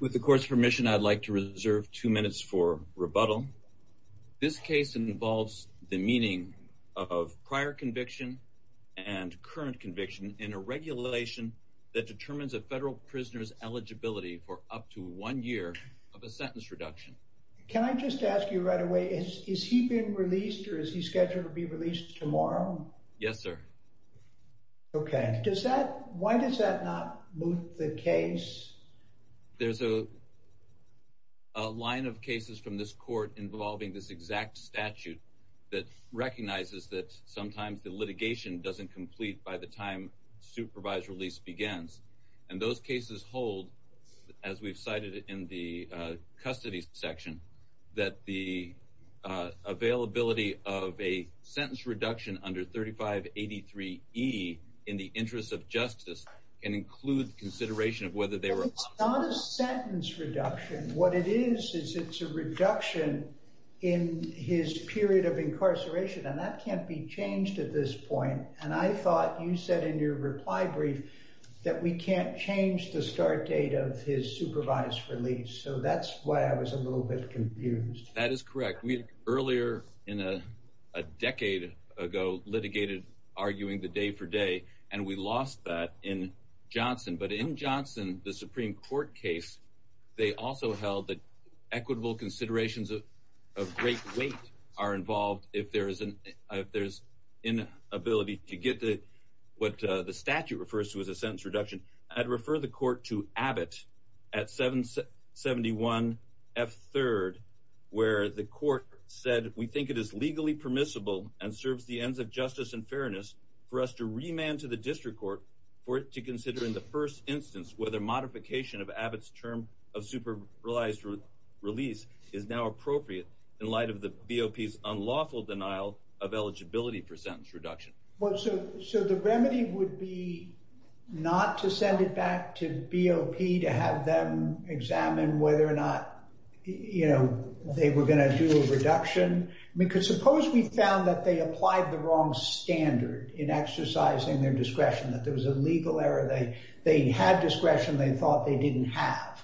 With the court's permission, I'd like to reserve two minutes for rebuttal. This case involves the meaning of prior conviction and current conviction in a regulation that determines a federal prisoner's eligibility for up to one year of a sentence reduction. Can I just ask you right away, is he being released or is he scheduled to be released tomorrow? Yes sir. Okay, does that, why does that not move the case? There's a line of cases from this court involving this exact statute that recognizes that sometimes the litigation doesn't complete by the time supervised release begins. And those cases hold, as we've cited in the custody section, that the availability of a sentence reduction under 3583e in the interest of justice can include consideration of whether they were... It's not a sentence reduction. What it is, is it's a reduction in his period of incarceration and that can't be changed at this point. And I thought you said in your reply brief that we can't change the start date of his supervised release. So that's why I was a little bit confused. That is correct. We earlier, in a decade ago, litigated arguing the day-for-day and we lost that in Johnson. But in Johnson, the Supreme Court case, they also held that equitable considerations of great weight are involved if there is an inability to get to what the statute refers to as a sentence reduction. I'd refer the court to Abbott at 771 F. 3rd, where the court said, we think it is legally permissible and serves the ends of justice and fairness for us to remand to the district court for it to consider in the first instance whether modification of Abbott's term of supervised release is now appropriate in light of the BOP's unlawful denial of eligibility for sentence reduction. So the remedy would be not to send it back to BOP to have them examine whether or not, you know, they were going to do a reduction? Because suppose we found that they applied the wrong standard in exercising their discretion, that there was a legal error. They had discretion they thought they didn't have.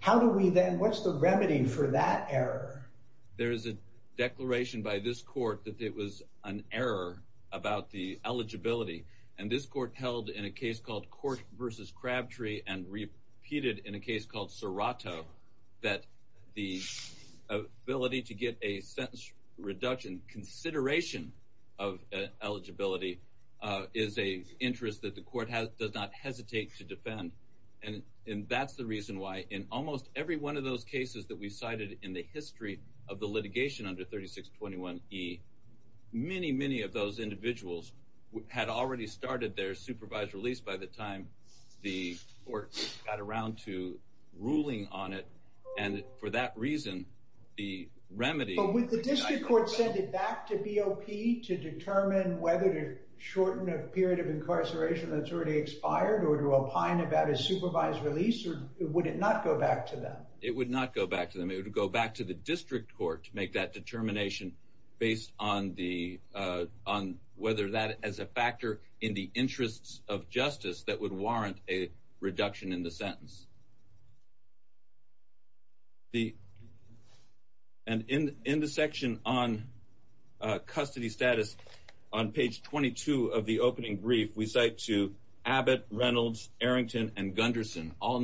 How do we then, what's the remedy for that error? There is a declaration by this court that it was an error about the eligibility. And this court held in a case called Court versus Crabtree and repeated in a case called Serato that the ability to get a sentence reduction consideration of eligibility is a interest that the court has does not hesitate to defend. And that's the reason why in almost every one of those cases that we cited in the history of the litigation under 3621 E, many, many of those individuals had already started their supervised release by the time the court got around to ruling on it. And for that reason, the remedy... But would the district court send it back to BOP to determine whether to shorten a period of incarceration that's already expired or to opine about a supervised release or would it not go back to them? It would not go back to them. It would go back to the district court to make that determination based on whether that as a factor in the interests of justice that would warrant a reduction in the sentence. And in the section on custody status on page 22 of the opening brief, we cite to Abbott, Reynolds, Arrington, and Gunderson, all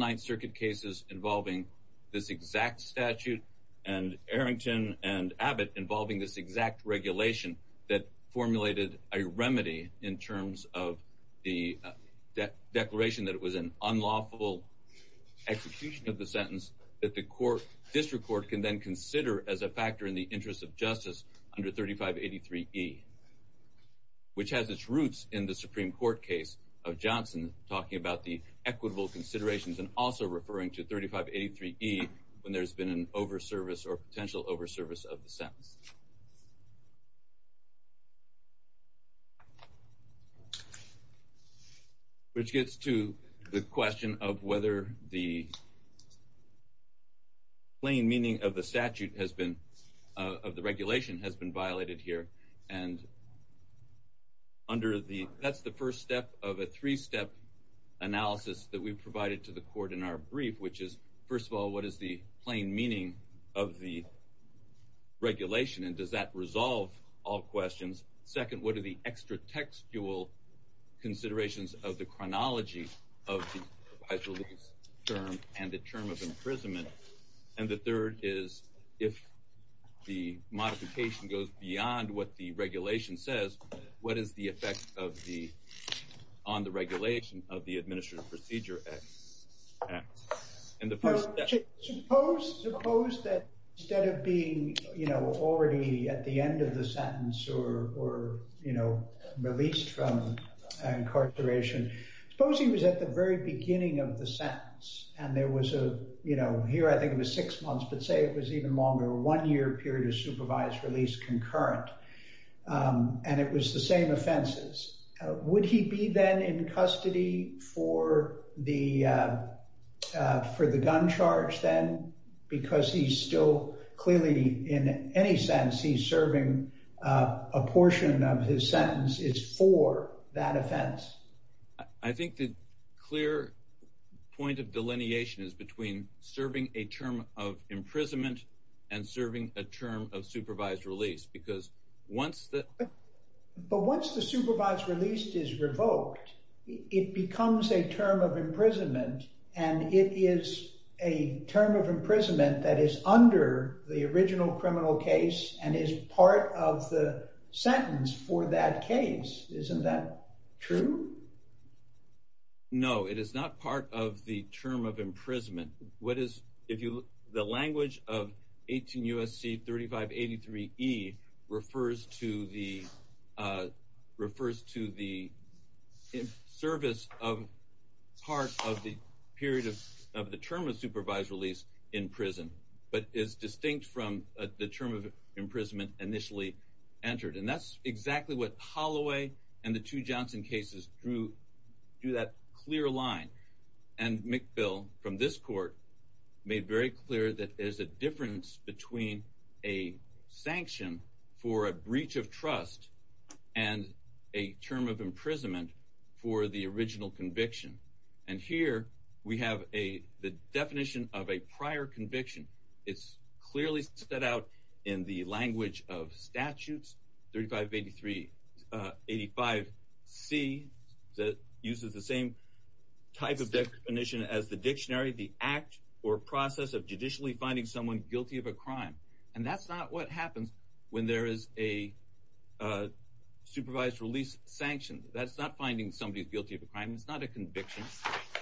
exact statute and Arrington and Abbott involving this exact regulation that formulated a remedy in terms of the declaration that it was an unlawful execution of the sentence that the court, district court, can then consider as a factor in the interest of justice under 3583 E, which has its roots in the Supreme Court case of Johnson talking about the equitable considerations and also referring to 3583 E when there's been an over service or potential over service of the sentence. Which gets to the question of whether the plain meaning of the statute has been... Of the regulation has been violated here and under the... That's the first step of a three-step analysis that we provided to the court in our brief, which is first of all, what is the plain meaning of the regulation and does that resolve all questions? Second, what are the extra-textual considerations of the chronology of the term and the term of imprisonment? And the third is if the modification goes beyond what the regulation says, what is the effect of the... On the regulation of the term? Suppose that instead of being, you know, already at the end of the sentence or, you know, released from incarceration, suppose he was at the very beginning of the sentence and there was a, you know, here I think it was six months, but say it was even longer, one year period of supervised release concurrent and it was the same offenses. Would he be then in custody for the... For the gun charge then? Because he's still clearly in any sense he's serving a portion of his sentence is for that offense. I think the clear point of delineation is between serving a term of imprisonment and serving a term of supervised release because once the... But once the supervised release is revoked, it becomes a term of imprisonment and it is a term of imprisonment that is under the original criminal case and is part of the sentence for that case. Isn't that true? No, it is not part of the term of imprisonment. What is, if you... The § 183e refers to the... Refers to the service of part of the period of the term of supervised release in prison, but is distinct from the term of imprisonment initially entered. And that's exactly what Holloway and the two Johnson cases drew, drew that clear line. And McBill, from this court, made very clear that there's a difference between a sanction for a breach of trust and a term of imprisonment for the original conviction. And here we have a... The definition of a prior conviction. It's clearly set out in the language of statutes, 3583... 85C that uses the same type of definition as the dictionary, the act or process of finding someone guilty of a crime. And that's not what happens when there is a supervised release sanction. That's not finding somebody guilty of a crime. It's not a conviction.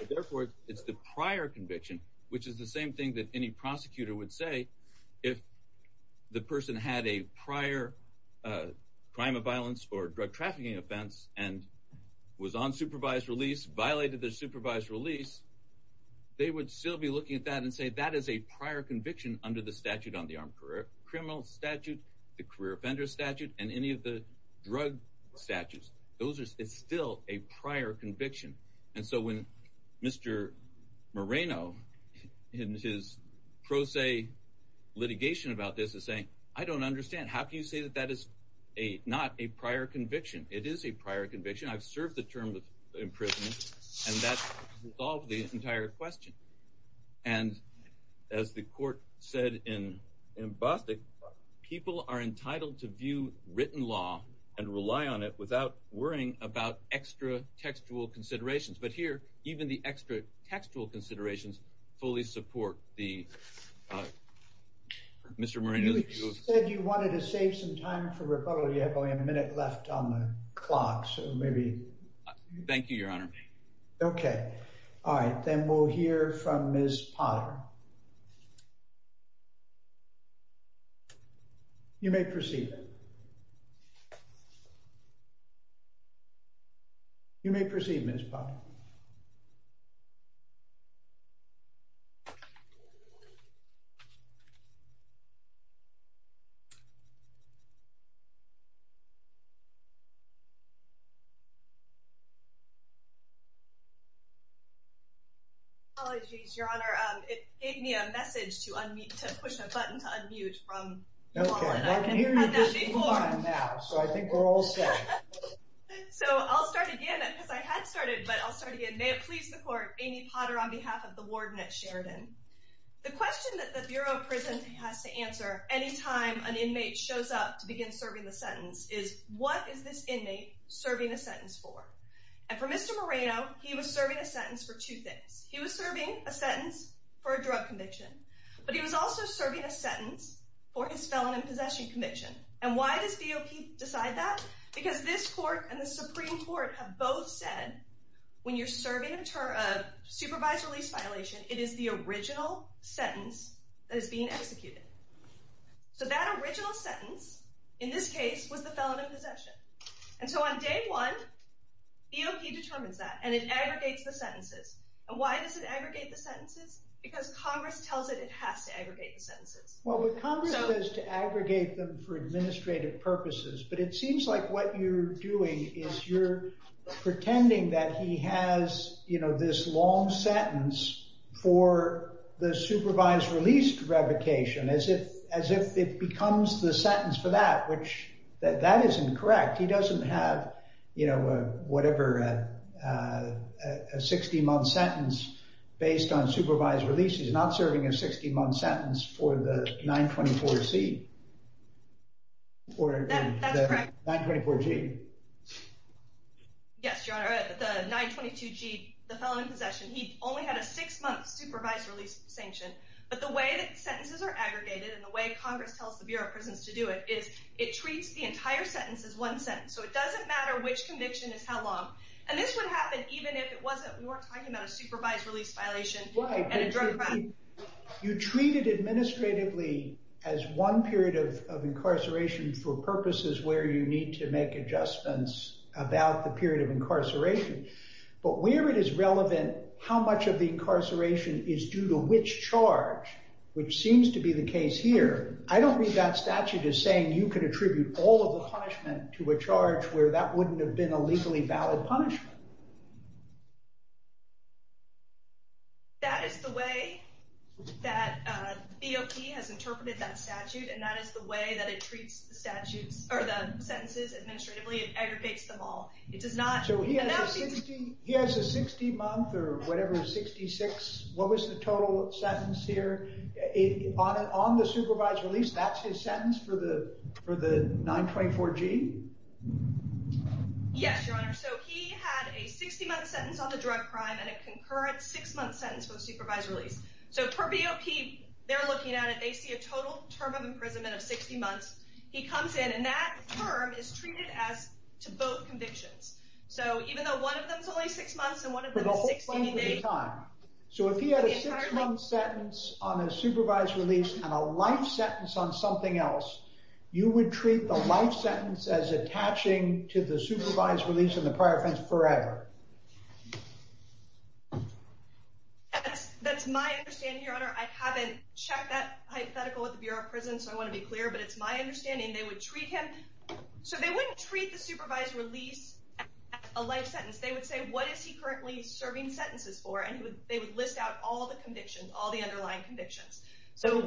Therefore, it's the prior conviction, which is the same thing that any prosecutor would say if the person had a prior crime of violence or drug trafficking offense and was on supervised release, violated their supervised release, they would still be looking at that and say, that is a prior conviction under the statute on the armed criminal statute, the career offender statute, and any of the drug statutes. Those are still a prior conviction. And so when Mr. Moreno, in his pro se litigation about this is saying, I don't understand, how can you say that that is a not a prior conviction, it is a prior conviction, I've served the term of imprisonment. And that's solved the entire question. And as the court said, in in Boston, people are entitled to view written law and rely on it without worrying about extra textual considerations. But here, even the extra textual considerations fully support the Mr. Moreno, said you wanted to save some time for rebuttal. You have only a minute left on the clock. So maybe thank you, Your Honor. Okay. All right, then we'll hear from Miss Potter. You may proceed. You may proceed, Miss Potter. Apologies, Your Honor, it gave me a message to unmute, to push a button to unmute from Okay, I can hear you just fine now, so I think we're all set. So I'll start again, because I had started, but I'll start again. May it please the court, Amy Potter on behalf of the Warden at Sheridan. The question that the Bureau of Prisons has to answer any time an inmate shows up to begin a sentence for. And for Mr. Moreno, he was serving a sentence for two things. He was serving a sentence for a drug conviction, but he was also serving a sentence for his felon in possession conviction. And why does DOP decide that? Because this court and the Supreme Court have both said, when you're serving a supervised release violation, it is the original sentence that is being executed. So that original sentence, in this case, was the felon in possession. And so on day one, DOP determines that, and it aggregates the sentences. And why does it aggregate the sentences? Because Congress tells it, it has to aggregate the sentences. Well, but Congress says to aggregate them for administrative purposes. But it seems like what you're doing is you're pretending that he has, you know, this long sentence for the supervised release revocation, as if, as if it becomes the correct. He doesn't have, you know, whatever, a 60-month sentence based on supervised release. He's not serving a 60-month sentence for the 924C or 924G. Yes, Your Honor, the 922G, the felon in possession, he only had a six-month supervised release sanction. But the way that sentences are aggregated and the way Congress tells the Bureau of Prisons to do it is it treats the entire sentence as one sentence. So it doesn't matter which conviction is how long. And this would happen even if it wasn't, we weren't talking about a supervised release violation and a drug crime. You treat it administratively as one period of incarceration for purposes where you need to make adjustments about the period of incarceration. But where it is relevant, how much of the incarceration is due to which charge, which seems to be the case here, I don't read that statute as saying you can make an adjustment to a charge where that wouldn't have been a legally valid punishment. That is the way that BOT has interpreted that statute, and that is the way that it treats the statutes, or the sentences, administratively. It aggregates them all. It does not... So he has a 60-month or whatever, 66, what was the total sentence here? On the 924G? Yes, Your Honor. So he had a 60-month sentence on the drug crime and a concurrent 6-month sentence for a supervised release. So per BOP, they're looking at it, they see a total term of imprisonment of 60 months. He comes in and that term is treated as to both convictions. So even though one of them is only 6 months and one of them is 60, they... For the whole length of the time. So if he had a 6-month sentence on a supervised release and a life sentence on something else, you would treat the life sentence as attaching to the supervised release and the prior offense forever. That's my understanding, Your Honor. I haven't checked that hypothetical at the Bureau of Prisons, so I want to be clear, but it's my understanding they would treat him... So they wouldn't treat the supervised release as a life sentence. They would say, what is he currently serving sentences for? And they would list out all the convictions, all the underlying convictions. So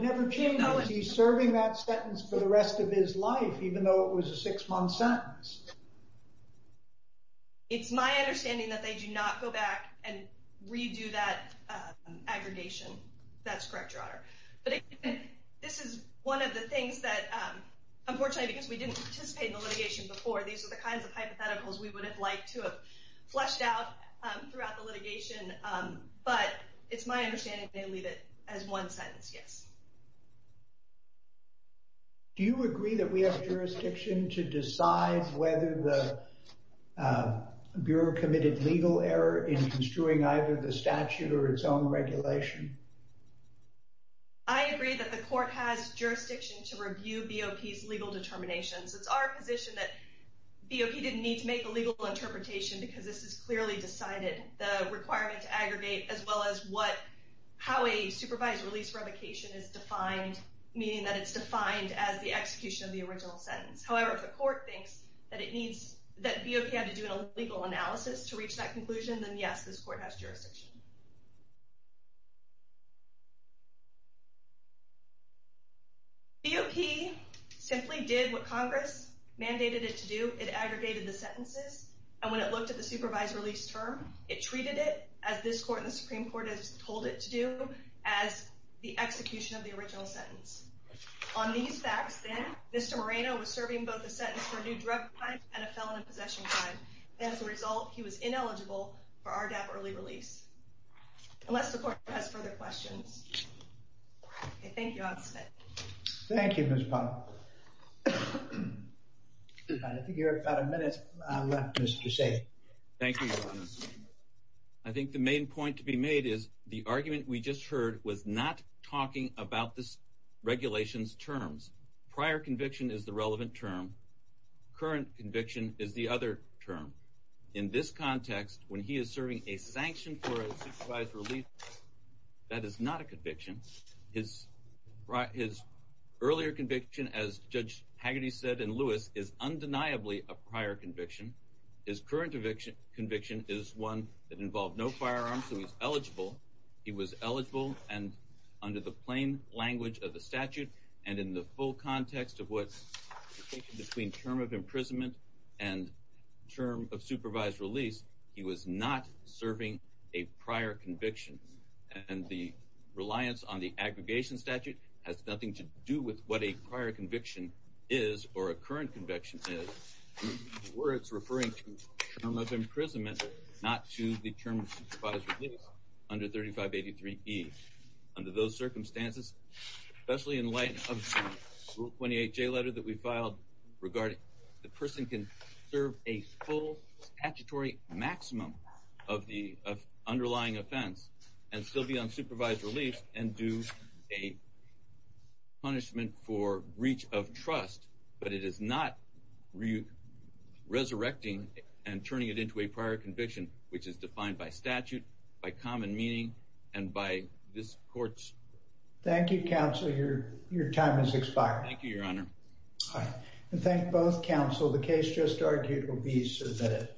he's serving that sentence for the rest of his life, even though it was a 6-month sentence. It's my understanding that they do not go back and redo that aggregation. That's correct, Your Honor. But this is one of the things that, unfortunately because we didn't participate in the litigation before, these are the kinds of hypotheticals we would have liked to have fleshed out throughout the litigation. It's my understanding they leave it as one sentence, yes. Do you agree that we have jurisdiction to decide whether the Bureau committed legal error in construing either the statute or its own regulation? I agree that the court has jurisdiction to review BOP's legal determinations. It's our position that BOP didn't need to make a legal interpretation because this is clearly decided. The requirement to aggregate, as well as how a supervised release revocation is defined, meaning that it's defined as the execution of the original sentence. However, if the court thinks that BOP had to do a legal analysis to reach that conclusion, then yes, this court has jurisdiction. BOP simply did what Congress mandated it to do. It aggregated the sentences. And when it looked at the supervised release term, it treated it, as this court and the Supreme Court has told it to do, as the execution of the original sentence. On these facts, then, Mr. Moreno was serving both a sentence for a new drug crime and a felon in possession crime. As a result, he was ineligible for RDAP early release. Unless the court has further questions. Thank you, Ms. Powell. Thank you, Ms. Powell. I think you have about a minute left, Mr. Shea. Thank you, Your Honor. I think the main point to be made is the argument we just heard was not talking about this regulation's terms. Prior conviction is the relevant term. Current conviction is the other term. In this context, when he is serving a sanction for a supervised release, that is not a conviction. His earlier conviction, as Judge Hagerty said in Lewis, is undeniably a prior conviction. His current conviction is one that involved no firearms, so he's eligible. He was eligible, and under the plain language of the statute, and in the full context of what's between term of imprisonment and term of supervised release, he was not serving a prior conviction. And the reliance on the aggregation statute has nothing to do with what a prior conviction is or a current conviction is. The word's referring to term of imprisonment, not to the term of supervised release under 3583E. Under those circumstances, especially in light of Rule 28J letter that we filed regarding the person can serve a full statutory maximum of the and still be on supervised release and do a punishment for breach of trust, but it is not resurrecting and turning it into a prior conviction, which is defined by statute, by common meaning, and by this court's... Thank you, Counsel. Your time has expired. Thank you, Your Honor. I thank both Counsel. The case just argued will be submitted.